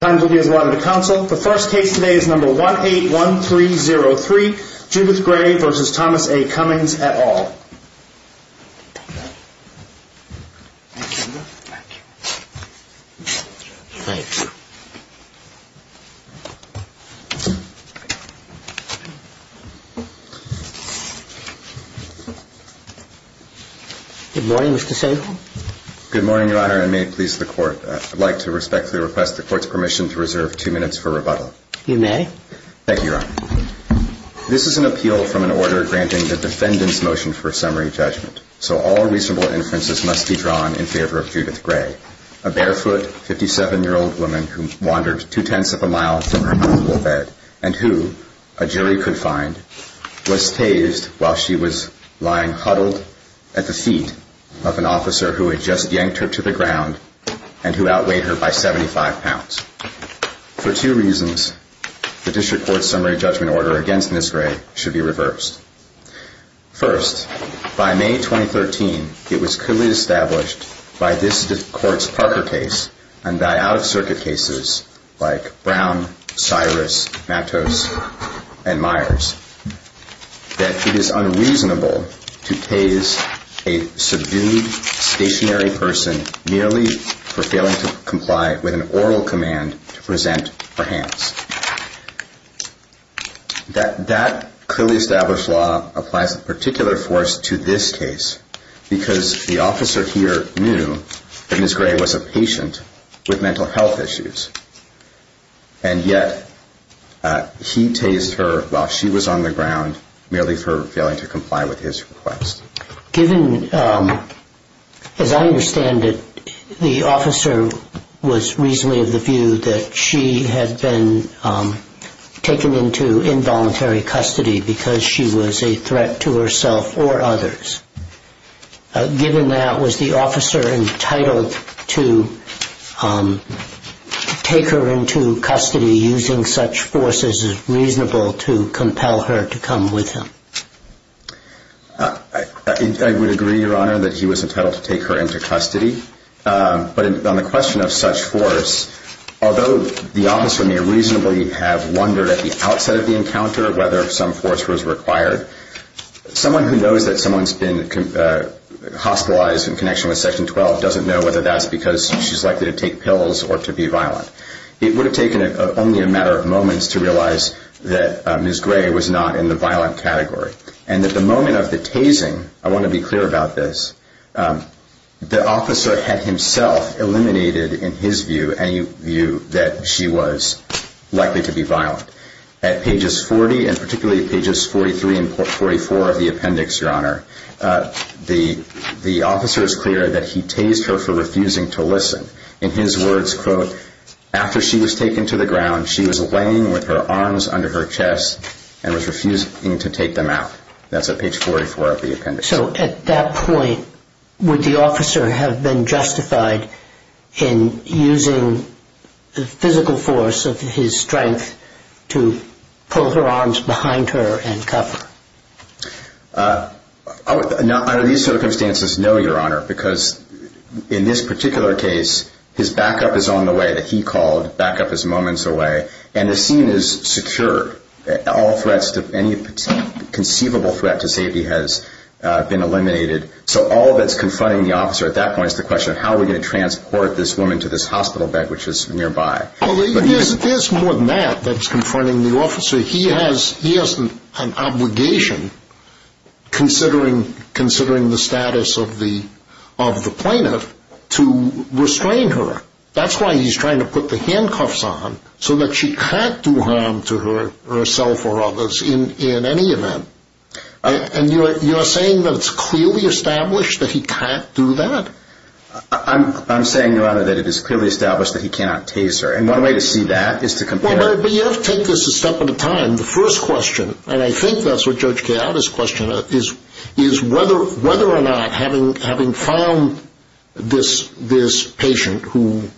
and all. Good morning, Mr. Sankoff. Good morning, Your Honor, and may it please the Court, I'd like to respectfully request the Court's permission to reserve two minutes for rebuttal. You may. Thank you, Your Honor. This is an appeal from an order granting the defendant's motion for a summary judgment, so all reasonable inferences must be drawn in favor of Judith Gray, a barefoot, 57-year-old woman who wandered two-tenths of a mile from her hospital bed and who, a jury could find, was tased while she was lying huddled at the feet of an officer who had just yanked her to the ground and who outweighed her by 75 pounds. For two reasons, the District Court's summary judgment order against Ms. Gray should be reversed. First, by May 2013, it was clearly established by this Court's Parker case and by out-of-circuit cases like Brown, Cyrus, Matos, and Myers that it is unreasonable to tase a subdued, stationary person merely for failing to comply with an oral command to present her hands. That clearly established law applies a particular force to this case because the officer here knew that Ms. Gray was a patient with mental health issues, and yet he tased her while she was on the ground merely for failing to comply with his request. Given, as I understand it, the officer was reasonably of the view that she had been taken into involuntary custody because she was a threat to herself or others. Given that, was the officer entitled to take her into custody using such force as is reasonable to compel her to come with him? I would agree, Your Honor, that he was entitled to take her into custody, but on the question of such force, although the officer may reasonably have wondered at the outset of the encounter whether some force was required, someone who knows that someone has been hospitalized in connection with Section 12 doesn't know whether that's because she's likely to take pills or to be violent. It would have taken only a matter of moments to realize that Ms. Gray was not in the violent category, and that the moment of the tasing, I want to be clear about this, the officer had himself eliminated in his view any view that she was likely to be violent. At pages 40, and particularly pages 43 and 44 of the appendix, Your Honor, the officer is clear that he tased her for refusing to listen. In his words, quote, after she was taken to the ground, she was laying with her arms under her chest and was refusing to take them out. That's at page 44 of the appendix. So at that point, would the officer have been justified in using the physical force of his strength to pull her arms behind her and cuff her? Under these circumstances, no, Your Honor, because in this particular case, his backup is on the way that he called, backup is moments away, and the scene is secure. All threats to any conceivable threat to safety has been eliminated. So all that's confronting the officer at that point is the question of how are we going to transport this woman to this hospital bed, which is nearby. There's more than that that's confronting the officer. He has an obligation, considering the status of the plaintiff, to restrain her. That's why he's trying to put the handcuffs on, so that she can't do harm to herself or others in any event. And you're saying that it's clearly established that he can't do that? I'm saying, Your Honor, that it is clearly established that he cannot tase her. And one way to see that is to compare... Well, but you have to take this a step at a time. The first question, and I think that's what Judge Keada's question is, is whether or not, having found this patient who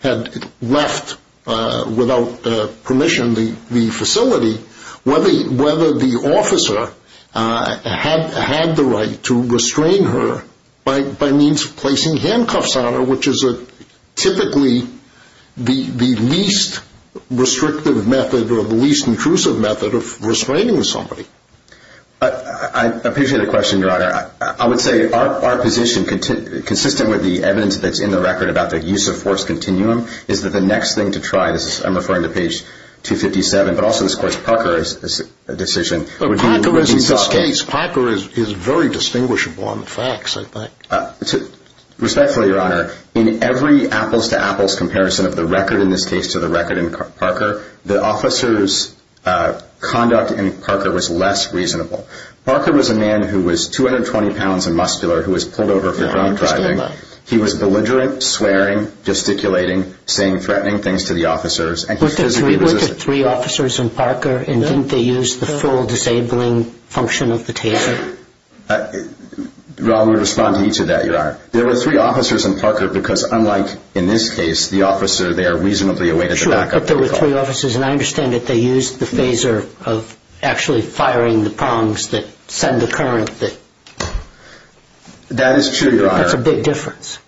had left without permission the facility, whether the officer had the right to restrain her by means of placing handcuffs on her, which is typically the least restrictive method or the least intrusive method of restraining somebody. I appreciate the question, Your Honor. I would say our position, consistent with the evidence that's in the record about the use of force continuum, is that the next thing to try, I'm referring to page 257, but also this Court's Parker decision... Parker is very distinguishable on the facts, I think. Respectfully, Your Honor, in every apples-to-apples comparison of the record in this case to the Parker case, the officer's conduct in Parker was less reasonable. Parker was a man who was 220 pounds and muscular, who was pulled over for drunk driving. He was belligerent, swearing, gesticulating, saying threatening things to the officers, and he physically was... Were there three officers in Parker, and didn't they use the full disabling function of the taser? I would respond to each of that, Your Honor. There were three officers in Parker, because there were three officers, and I understand that they used the taser of actually firing the prongs that send the current that... That is true, Your Honor. That's a big difference.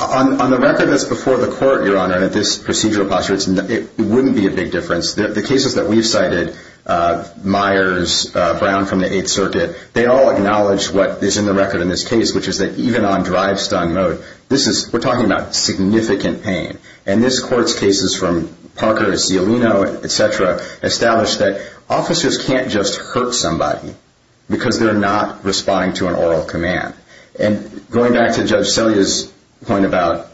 On the record that's before the Court, Your Honor, in this procedural posture, it wouldn't be a big difference. The cases that we've cited, Myers, Brown from the Eighth Circuit, they all acknowledge what is in the record in this case, which is that even on drive-stung mode, this is... We're talking about significant pain, and this Court's cases from Parker to Cialino, et cetera, established that officers can't just hurt somebody because they're not responding to an oral command. Going back to Judge Selya's point about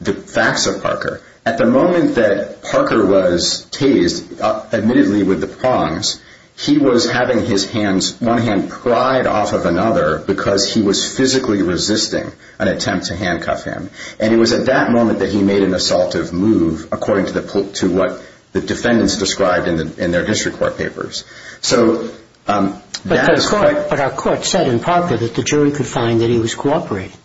the facts of Parker, at the moment that Parker was tased, admittedly with the prongs, he was having his hands... One hand pried off of another, because he was physically resisting an attempt to handcuff him. And it was at that moment that he made an assaultive move, according to what the defendants described in their district court papers. So that is quite... But our Court said in Parker that the jury could find that he was cooperating.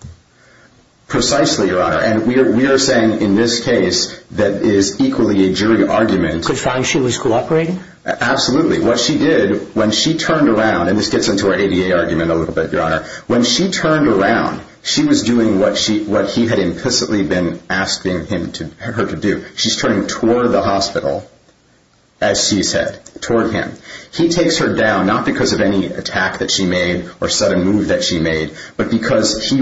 Precisely, Your Honor. And we are saying in this case that is equally a jury argument... Could find she was cooperating? Absolutely. What she did when she turned around... And this gets into our ADA argument a little bit, Your Honor. When she turned around, she was doing what he had implicitly been asking her to do. She's turning toward the hospital, as she said, toward him. He takes her down, not because of any attack that she made or sudden move that she made, but because he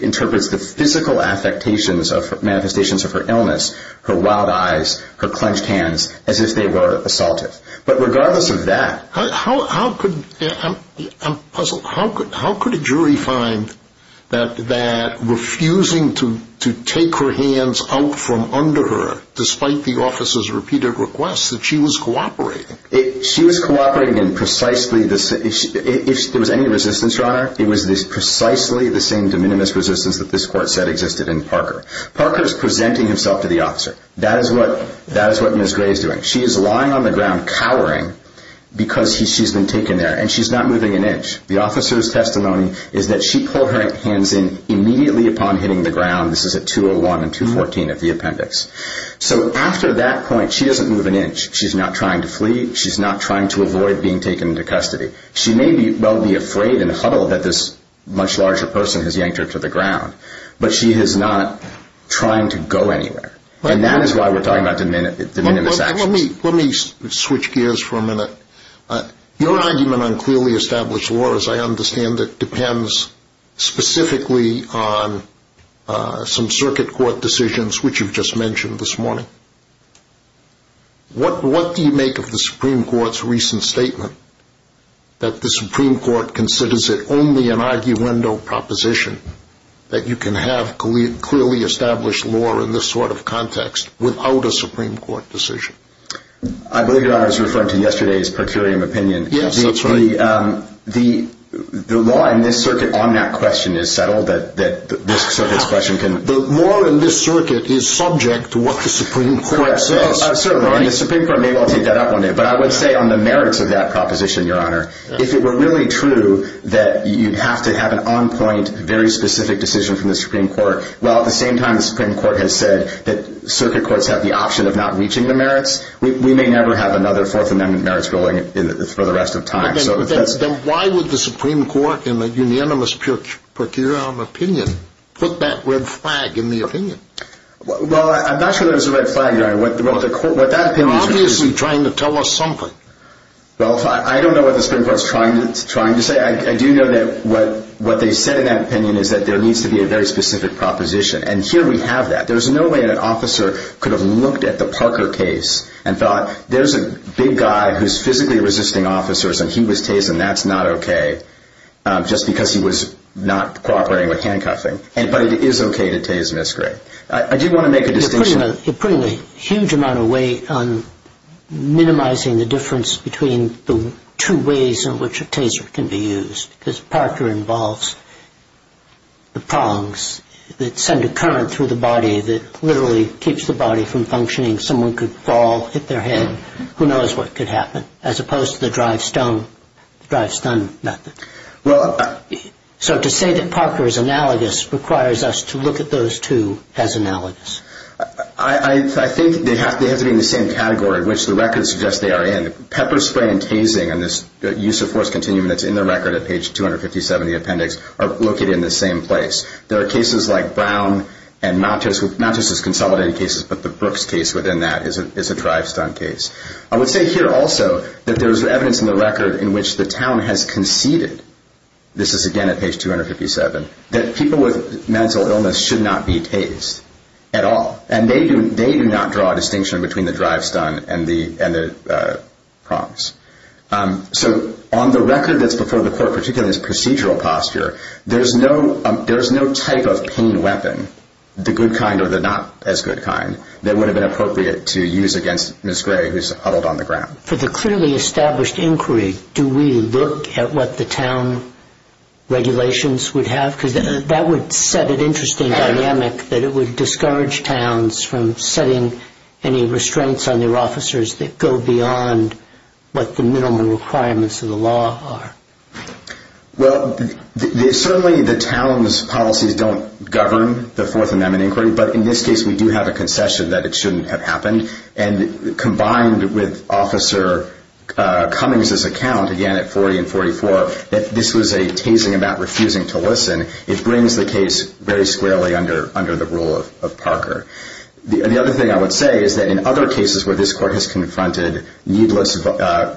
interprets the physical affectations of... Manifestations of her illness, her wild eyes, her clenched hands, as if they were assaulted. But regardless of that... How could... I'm puzzled. How could a jury find that refusing to take her hands out from under her, despite the officer's repeated requests, that she was cooperating? She was cooperating in precisely the... If there was any resistance, Your Honor, it was precisely the same de minimis resistance that this Court said existed in Parker. Parker's presenting himself to the officer. That is what Ms. Gray is doing. She is lying on the ground, cowering, because she's been taken there. And she's not moving an inch. The officer's testimony is that she pulled her hands in immediately upon hitting the ground. This is at 201 and 214 of the appendix. So after that point, she doesn't move an inch. She's not trying to flee. She's not trying to avoid being taken into custody. She may well be afraid and huddled that this much larger person has yanked her to the ground. But she is not trying to go anywhere. And that is why we're talking about de minimis actions. Let me switch gears for a minute. Your argument on clearly established law, as I understand it, depends specifically on some circuit court decisions, which you've just mentioned this morning. What do you make of the Supreme Court's recent statement that the Supreme Court considers it only an arguendo proposition that you can have clearly established law in this sort of context without a Supreme Court decision? I believe you're referring to yesterday's per curiam opinion. Yes, that's right. The law in this circuit on that question is settled, so this question can... The law in this circuit is subject to what the Supreme Court says. Certainly. The Supreme Court may well take that up one day. But I would say on the merits of that you'd have to have an on-point, very specific decision from the Supreme Court. While at the same time the Supreme Court has said that circuit courts have the option of not reaching the merits, we may never have another Fourth Amendment merits ruling for the rest of time. Then why would the Supreme Court, in a unanimous per curiam opinion, put that red flag in the opinion? Well, I'm not sure there's a red flag there. What that opinion is... Obviously trying to tell us something. Well, I don't know what the Supreme Court's trying to say. I do know that what they said in that opinion is that there needs to be a very specific proposition, and here we have that. There's no way an officer could have looked at the Parker case and thought, there's a big guy who's physically resisting officers, and he was tased, and that's not okay, just because he was not cooperating with handcuffing. But it is okay to tase miscarry. I do want to make a distinction. You're putting a huge amount of weight on the two ways in which a taser can be used, because Parker involves the prongs that send a current through the body that literally keeps the body from functioning. Someone could fall, hit their head, who knows what could happen, as opposed to the drive-stun method. So to say that Parker is analogous requires us to look at those two as analogous. I think they have to be in the same place. Pepper spray and tasing, and this use of force continuum that's in the record at page 257 of the appendix, are located in the same place. There are cases like Brown and not just as consolidated cases, but the Brooks case within that is a drive-stun case. I would say here also that there's evidence in the record in which the town has conceded, this is again at page 257, that people with mental illness should not be tased at all, and they do not draw a distinction between the drive-stun and the prongs. So on the record that's before the court, particularly this procedural posture, there's no type of pain weapon, the good kind or the not as good kind, that would have been appropriate to use against Ms. Gray who's huddled on the ground. For the clearly established inquiry, do we look at what the town regulations would have? Because that would set an interesting dynamic that it would discourage towns from setting any restraints on their officers that go beyond what the minimum requirements of the law are. Well, certainly the town's policies don't govern the Fourth Amendment inquiry, but in this case we do have a concession that it shouldn't have happened, and combined with Officer Cummings' account, again at 40 and 44, that this was a tasing about refusing to listen, it brings the case very squarely under the rule of Parker. The other thing I would say is that in other cases where this court has confronted needless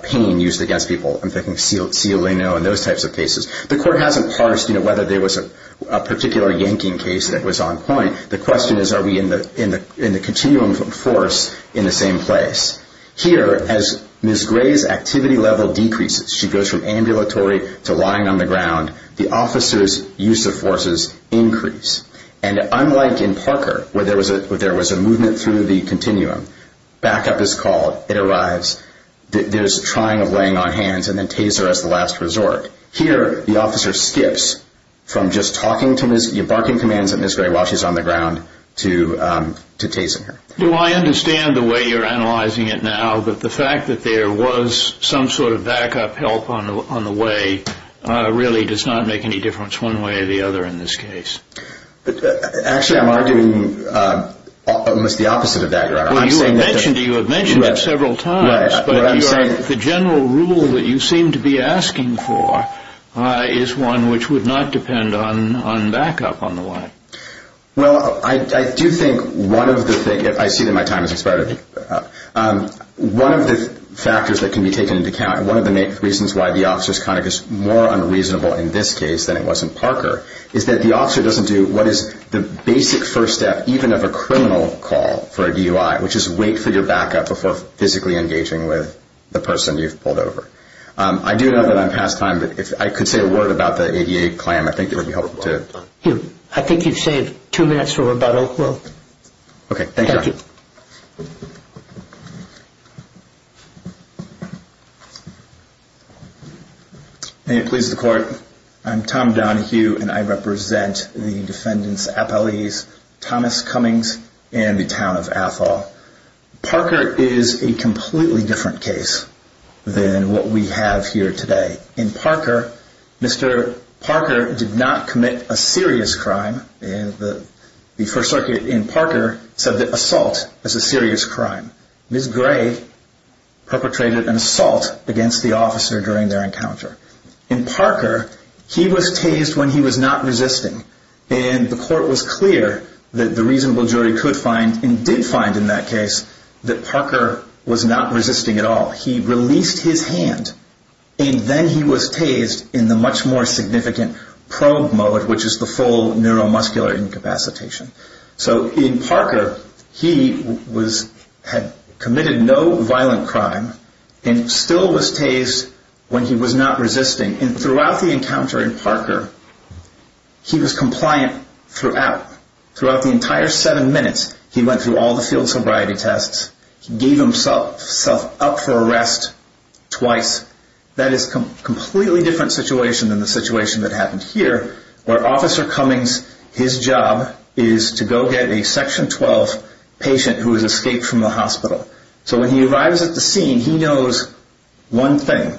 pain used against people, I'm thinking Cialino and those types of cases, the court hasn't parsed whether there was a particular yanking case that was on point. The question is are we in the continuum of force in the same place? Here, as Ms. Gray's activity level decreases, she goes from ambulatory to lying on the ground, the officer's use of forces increase. And unlike in Parker, where there was a movement through the continuum, backup is called, it arrives, there's trying of laying on hands, and then taser as the last resort. Here, the officer skips from just talking to Ms. Gray, barking commands at Ms. Gray while she's on the ground, to tasing her. Do I understand the way you're analyzing it now that the fact that there was some sort of backup help on the way really does not make any difference one way or the other in this case? Actually, I'm arguing almost the opposite of that, Your Honor. Well, you have mentioned it several times, but the general rule that you seem to be asking for is one which would not depend on backup on the way. Well, I do think one of the things, I see that my time has expired, but one of the factors that can be taken into account, one of the reasons why the officer's conduct is more unreasonable in this case than it was in Parker, is that the officer doesn't do what is the basic first step even of a criminal call for a DUI, which is wait for your backup before physically engaging with the person you've pulled over. I do know that I'm past time, but if I could say a word about the ADA claim, I think it would be helpful to... I think you've saved two minutes for rebuttal. Okay, thank you. May it please the court, I'm Tom Donohue and I represent the defendant's appellees, Thomas Cummings and the town of Athol. Parker is a completely different than what we have here today. In Parker, Mr. Parker did not commit a serious crime. The first circuit in Parker said that assault is a serious crime. Ms. Gray perpetrated an assault against the officer during their encounter. In Parker, he was tased when he was not resisting, and the court was clear that the reasonable jury could find, and did find in that case, that Parker was not resisting at all. He released his hand, and then he was tased in the much more significant probe mode, which is the full neuromuscular incapacitation. In Parker, he had committed no violent crime, and still was tased when he was not resisting. Throughout the encounter in Parker, he was compliant throughout. Throughout the entire seven minutes, he went through all the field sobriety tests. He gave himself up for arrest twice. That is a completely different situation than the situation that happened here, where Officer Cummings, his job is to go get a Section 12 patient who has escaped from the hospital. So when he arrives at the scene, he knows one thing,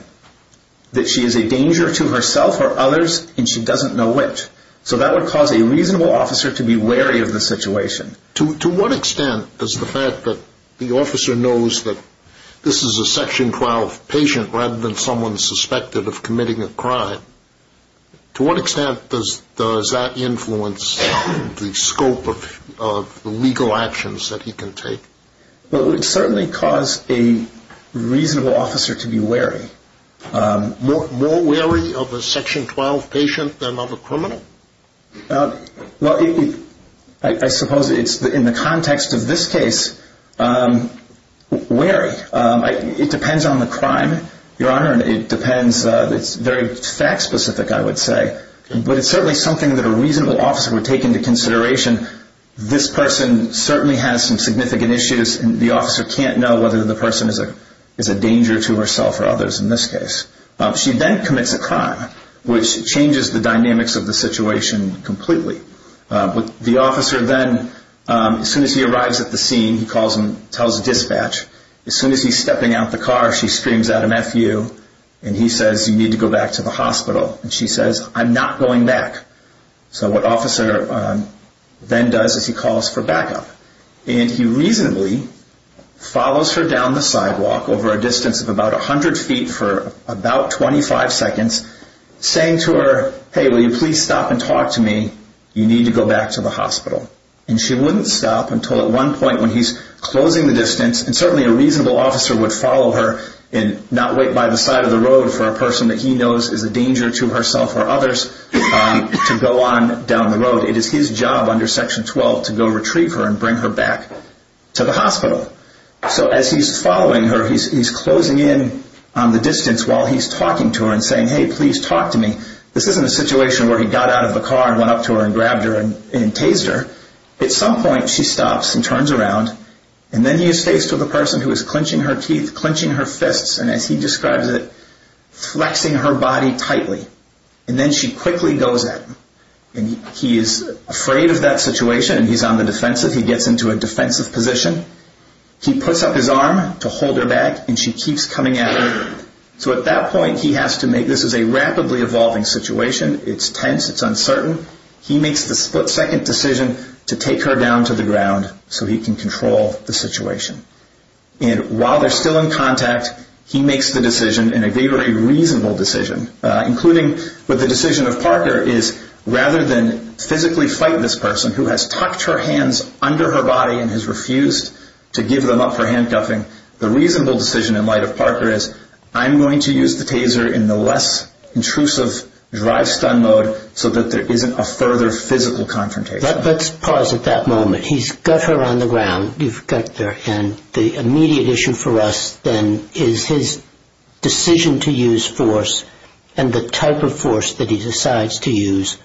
that she is a danger to herself or others, and she doesn't know which. So that would cause a reasonable officer to be wary of the situation. To what extent does the fact that the officer knows that this is a Section 12 patient, rather than someone suspected of committing a crime, to what extent does that influence the scope of the legal actions that he can take? Well, it would certainly cause a reasonable officer to be wary. More wary of a Section 12 patient than of a criminal? Well, I suppose in the context of this case, wary. It depends on the crime, Your Honor, and it depends, it's very fact specific, I would say. But it's certainly something that a reasonable officer would take into consideration. This person certainly has some significant issues, and the officer can't know whether the person is a danger to herself or others in this case. She then commits a crime, which changes the dynamics of the situation completely. The officer then, as soon as he arrives at the scene, he tells the dispatch, as soon as he's stepping out of the car, she screams out an FU, and he says, you need to go back to the hospital. And she says, I'm not going back. So what the officer then does is he calls for backup. And he reasonably follows her down the street for about 25 seconds, saying to her, hey, will you please stop and talk to me? You need to go back to the hospital. And she wouldn't stop until at one point when he's closing the distance, and certainly a reasonable officer would follow her and not wait by the side of the road for a person that he knows is a danger to herself or others to go on down the road. It is his job under Section 12 to go retrieve her and bring her back to the hospital. So as he's following her, he's closing in on the distance while he's talking to her and saying, hey, please talk to me. This isn't a situation where he got out of the car and went up to her and grabbed her and tased her. At some point, she stops and turns around. And then he is faced with a person who is clenching her teeth, clenching her fists, and as he describes it, flexing her body tightly. And then she quickly goes at him. And he is afraid of that situation, and he's on the defensive. He gets into a defensive position. He puts up his arm to hold her back, and she keeps coming at him. So at that point, he has to make this is a rapidly evolving situation. It's tense. It's uncertain. He makes the split-second decision to take her down to the ground so he can control the situation. And while they're still in contact, he makes the decision, and a very reasonable decision, including with the decision of Parker, is rather than physically fight this person who has tucked her hands under her body and has refused to give them up for handcuffing, the reasonable decision in light of Parker is, I'm going to use the taser in the less intrusive drive-stun mode so that there isn't a further physical confrontation. Let's pause at that moment. He's got her on the ground. You've got their hand. The immediate issue for us then is his decision to use force and the type of force that he decides to use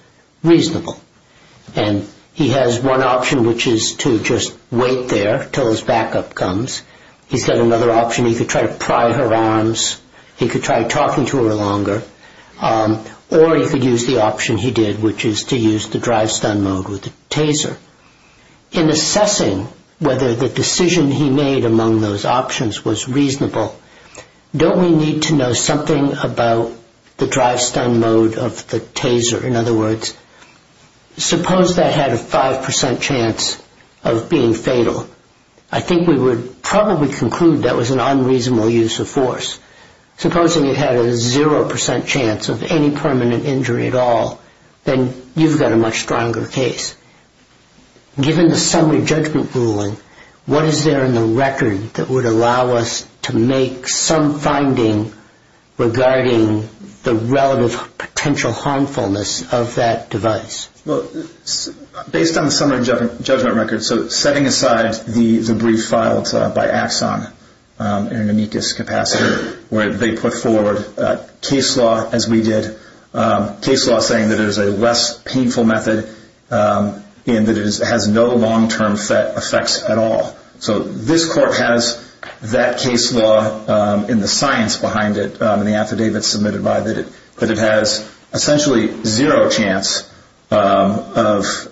reasonable. He has one option, which is to just wait there until his backup comes. He's got another option. He could try to pry her arms. He could try talking to her longer, or he could use the option he did, which is to use the drive-stun mode with the taser. In assessing whether the decision he made among those options was reasonable, don't we need to know something about the drive-stun mode of the taser? In other words, suppose that had a 5% chance of being fatal. I think we would probably conclude that was an unreasonable use of force. Supposing it had a 0% chance of any permanent injury at all, then you've got a much stronger case. Given the summary judgment ruling, what is there in the summary judgment ruling that would make some finding regarding the relative potential harmfulness of that device? Based on the summary judgment record, setting aside the brief filed by Axon in an amicus capacity where they put forward case law as we did, case law saying that it is a less painful method and that it has no long-term effects at all. This court has that case law in the science behind it, in the affidavit submitted by it, that it has essentially zero chance of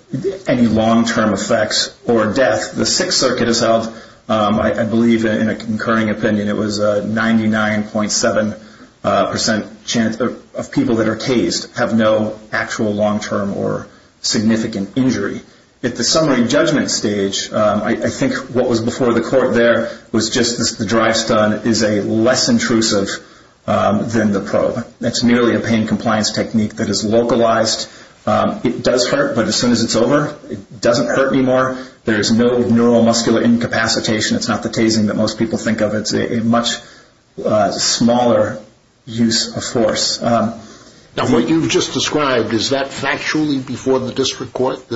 any long-term effects or death. The Sixth Circuit has held, I believe in a concurring opinion, it was a 99.7% chance of people that are tased have no actual long-term or significant injury. At the summary judgment stage, I think what was before the court there was just the drive stun is less intrusive than the probe. It's nearly a pain compliance technique that is localized. It does hurt, but as soon as it's over, it doesn't hurt anymore. There's no neuromuscular incapacitation. It's not the tasing that most people think of. It's a much smaller use of force. What you've just described, is that factually before the court, who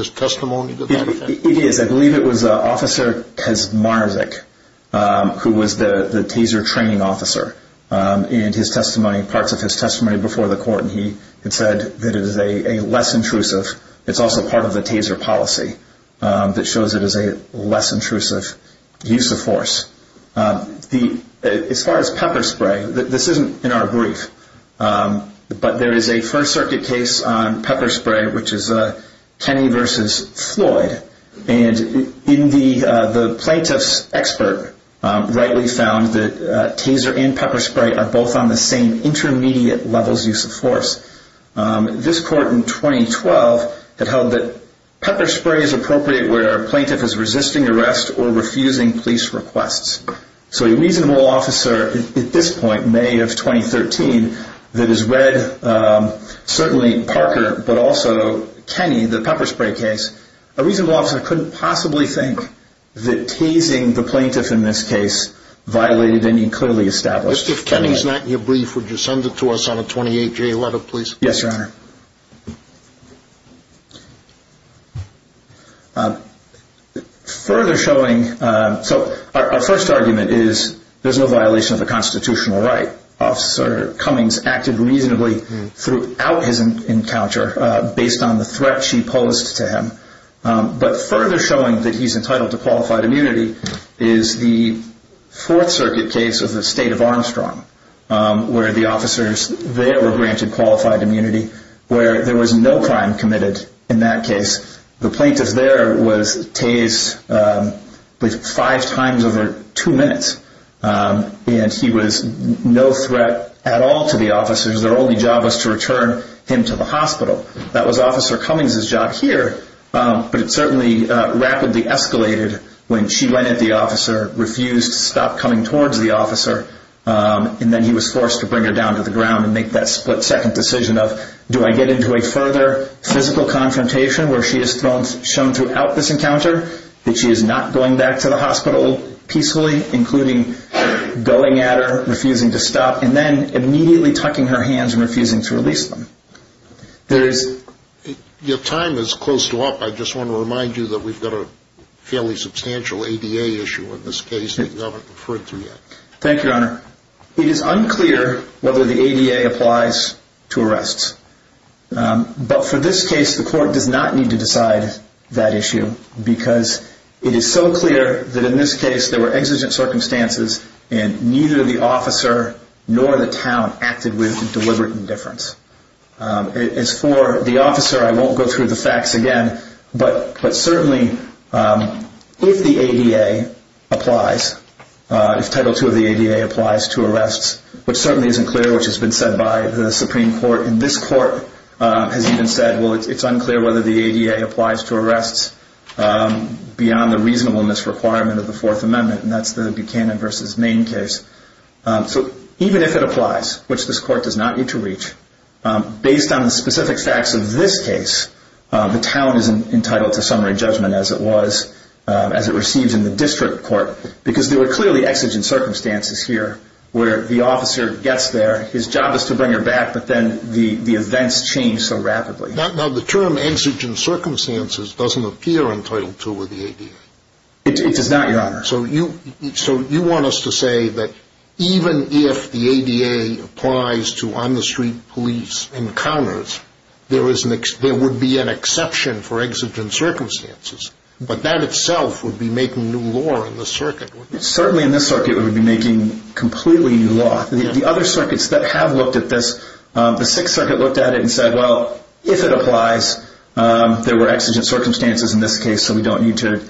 was the taser training officer, and parts of his testimony before the court, he had said that it is a less intrusive. It's also part of the taser policy that shows it as a less intrusive use of force. As far as pepper spray, this isn't in our brief, but there is a First Circuit case on pepper spray, which is Kenny versus Floyd. In the plaintiff's expert, rightly found that taser and pepper spray are both on the same intermediate levels use of force. This court in 2012 had held that pepper spray is appropriate where a plaintiff is resisting arrest or refusing police requests. A reasonable officer at this point, May of 2013, that has read certainly Parker, but also Kenny, the pepper spray case, a reasonable officer couldn't possibly think that tasing the plaintiff in this case violated any clearly established... If Kenny's not in your brief, would you send it to us on a 28-J letter, please? Yes, Your Honor. Further showing... Our first argument is there's no violation of the constitutional right. Officer Cummings acted reasonably throughout his encounter based on the threat she posed to him. But further showing that he's entitled to qualified immunity is the Fourth Circuit case of the state of Armstrong, where the officers there were granted qualified immunity, where there was no crime committed in that case. The plaintiff there was tased five times over two minutes, and he was no threat at all to the officers. Their only job was to return him to the hospital. That was Officer Cummings' job here, but it certainly rapidly escalated when she went at the officer, refused to stop coming towards the officer, and then he was forced to bring her down to the ground and make that split-second decision of, do I get into a further physical confrontation where she is shown throughout this encounter that she is not going back to the hospital peacefully, including going at her, refusing to stop, and then immediately tucking her hands and refusing to release them. Your time is close to up. I just want to remind you that we've got a fairly substantial ADA issue in this case that you haven't referred to yet. Thank you, Your Honor. It is unclear whether the ADA applies to arrests, but for this case the court does not need to decide that issue because it is so clear that in this case there were exigent circumstances and neither the officer nor the town acted with deliberate indifference. As for the officer, I won't go through the facts again, but certainly if the ADA applies, if Title II of the ADA applies to arrests, which certainly isn't clear, which has been said by the Supreme Court, and this court has even said, well, it's unclear whether the ADA applies to arrests, which is the main case, so even if it applies, which this court does not need to reach, based on the specific facts of this case, the town is entitled to summary judgment as it was, as it receives in the district court, because there were clearly exigent circumstances here where the officer gets there, his job is to bring her back, but then the events change so rapidly. Now, the term exigent circumstances doesn't appear in Title II of the ADA. It does not, Your Honor. So you want us to say that even if the ADA applies to on-the-street police encounters, there would be an exception for exigent circumstances, but that itself would be making new law in the circuit, wouldn't it? Certainly in this circuit, we would be making completely new law. The other circuits that have looked at this, the Sixth Circuit looked at it and said, well, if it applies, there were exigent circumstances in this case, so we don't need to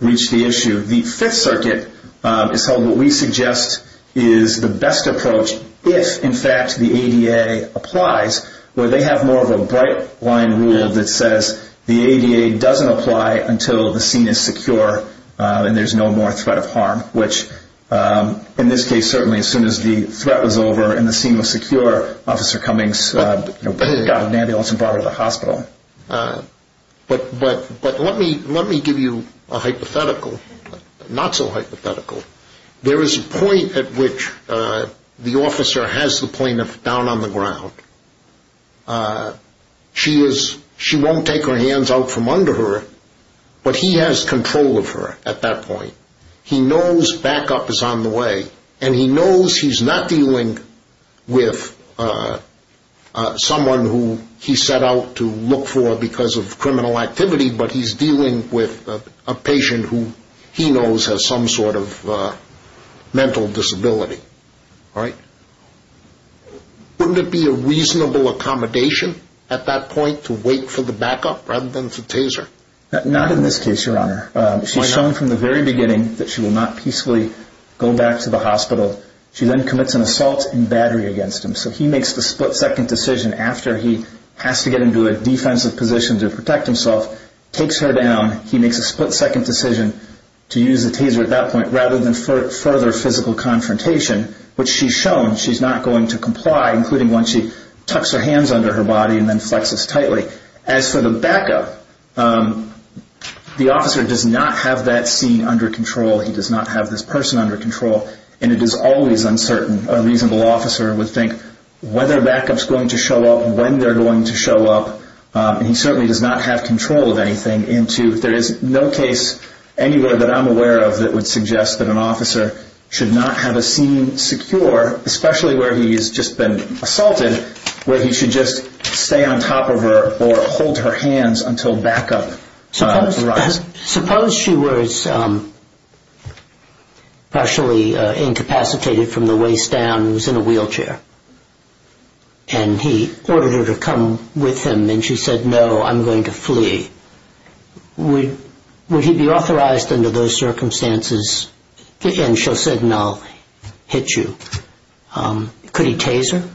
reach the issue. The Fifth Circuit has held what we suggest is the best approach if, in fact, the ADA applies, where they have more of a bright line rule that says the ADA doesn't apply until the scene is secure and there's no more threat of harm, which in this case, certainly, as soon as the threat was over and the scene was secure, Officer Cummings got an ambulance and brought her to the hospital. But let me give you a hypothetical, not so hypothetical. There is a point at which the officer has the plaintiff down on the ground. She won't take her hands out from under her, but he has control of her at that point. He knows backup is on the way, and he knows he's not dealing with someone who he set out to look for because of criminal activity, but he's dealing with a patient who he knows has some sort of mental disability. Wouldn't it be a reasonable accommodation at that point to wait for the backup rather than to tase her? Not in this case, Your Honor. She's shown from the very beginning that she will not peacefully go back to the hospital. She then commits an assault and battery against him, so he makes the split-second decision after he has to get into a defensive position to protect himself, takes her down, he makes a split-second decision to use a taser at that point rather than further physical confrontation, which she's shown she's not going to comply, including once she tucks her hands under her body and then flexes tightly. As for the backup, the officer does not have that scene under control. He does not have this person under control, and it is always uncertain. A reasonable officer would think whether backup's going to show up, when they're going to show up, and he certainly does not have control of anything. There is no case anywhere that I'm aware of that would suggest that an officer should not have a scene secure, especially where he has just been assaulted, where he should just stay on top of her or hold her hands until backup arrives. Suppose she was partially incapacitated from the waist down and was in a wheelchair, and he ordered her to come with him, and she said, no, I'm going to flee. Would he be authorized under those circumstances? And she'll say, no, hit you. Could he tase her?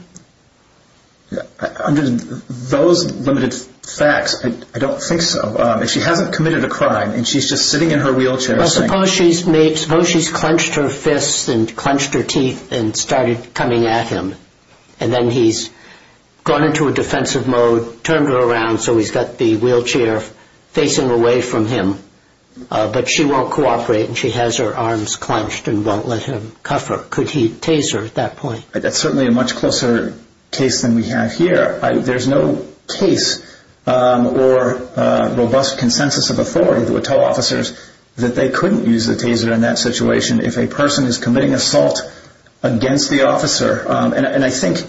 Under those limited facts, I don't think so. If she hasn't committed a crime and she's just sitting in her wheelchair. Suppose she's clenched her fists and clenched her teeth and started coming at him, and then he's gone into a defensive mode, turned her around, so he's got the wheelchair facing away from him, but she won't cooperate and she has her arms at that point. That's certainly a much closer case than we have here. There's no case or robust consensus of authority that would tell officers that they couldn't use a taser in that situation if a person is committing assault against the officer. And I think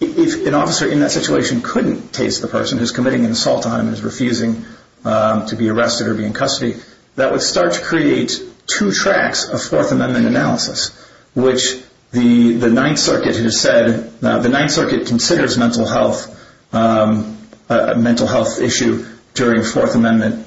if an officer in that situation couldn't tase the person who's committing an assault on him and is refusing to be arrested or be in custody, that would start to create two tracks of Fourth Amendment analysis, which the Ninth Circuit has said, the Ninth Circuit considers mental health issue during Fourth Amendment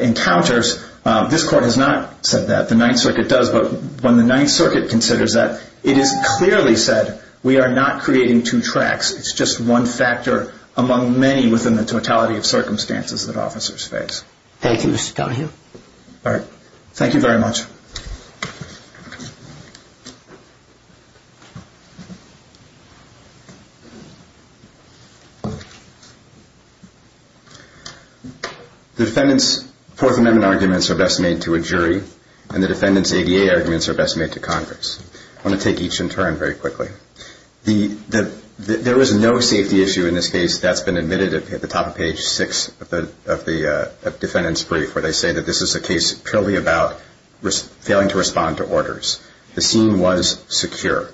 encounters. This court has not said that. The Ninth Circuit does, but when the Ninth Circuit considers that, it is clearly said, we are not creating two tracks. It's just one factor among many within the totality of circumstances that officers face. Thank you, Mr. Donohue. All right. Thank you very much. The defendant's Fourth Amendment arguments are best made to a jury, and the defendant's ADA arguments are best made to Congress. I want to take each in turn very quickly. There is no safety issue in this case. That's been admitted at the top of page six of the defendant's brief, where they say that this is a case purely about failing to respond to orders. The scene was secure.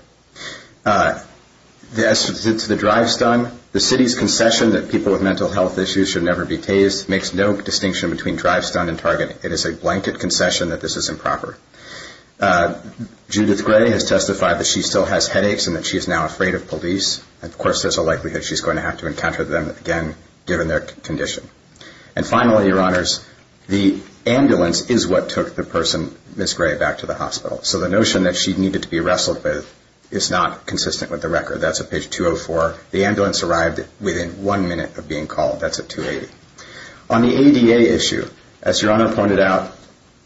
As to the drive-stun, the city's concession that people with mental health issues should never be tased makes no distinction between drive-stun and targeting. It is a blanket concession that this is improper. Judith Gray has testified that she still has headaches and that she is now afraid of police. Of course, there's a likelihood she's going to have to encounter them again, given their condition. And finally, Your Honors, the ambulance is what took the person, Ms. Gray, back to the hospital. So the notion that she needed to be wrestled with is not consistent with the record. That's at page 204. The ambulance arrived within one minute of being called. That's at 280. On the ADA issue, as Your Honor pointed out,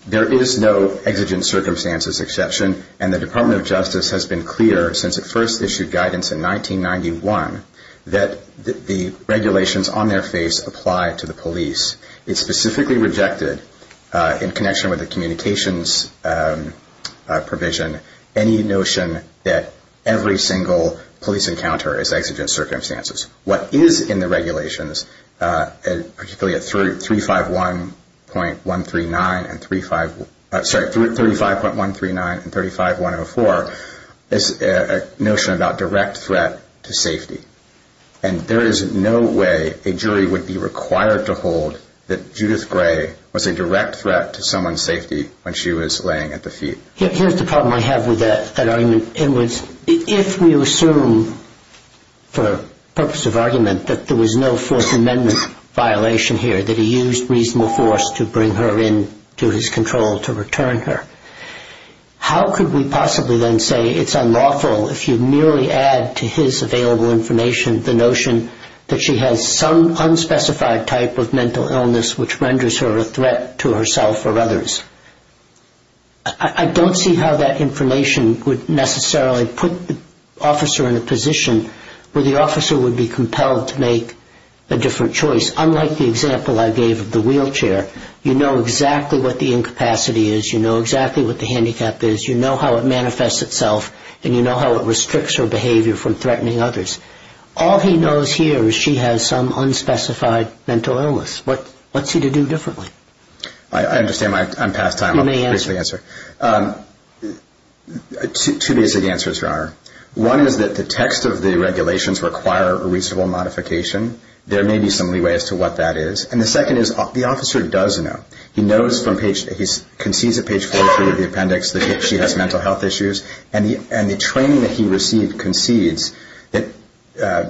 there is no exigent circumstances exception, and the Department of Justice has been clear, since it first issued guidance in 1991, that the regulations on their face apply to the police. It specifically rejected, in connection with the communications provision, any notion that every single police encounter is exigent circumstances. What is in the regulations, particularly at 351.139 and 35104, is a notion about direct threat to safety. And there is no way a jury would be required to hold that Judith Gray was a direct threat to someone's safety when she was laying at the feet. Here's the problem I have with that argument. It was, if we assume, for purpose of argument, that there was no Fourth Amendment violation here, that he used reasonable force to bring her into his control to return her. How could we possibly then say it's unlawful if you merely add to his available information the notion that she has some unspecified type of mental illness which renders her a threat to herself or others? I don't see how that information would necessarily put the officer in a position where the officer would be compelled to make a different choice. Unlike the example I gave of the wheelchair, you know exactly what the incapacity is, you know exactly what the handicap is, you know how it manifests itself, and you know how it restricts her behavior from threatening others. All he knows here is she has some unspecified mental illness. What's he to do differently? I understand I'm past time. Two basic answers, Your Honor. One is that the text of the regulations require a reasonable modification. There may be some leeway as to what that is. And the second is the officer does know. He knows from page, he concedes at page 43 of the appendix that she has mental health issues, and the training that he received concedes that,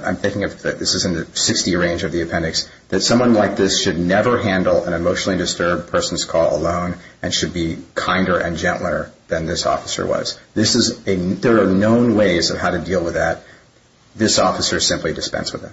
I'm thinking this is in the 60 range of the appendix, that someone like this should never handle an emotionally disturbed person's call alone and should be kinder and gentler than this officer was. There are known ways of how to deal with that. This officer is simply dispensed with it.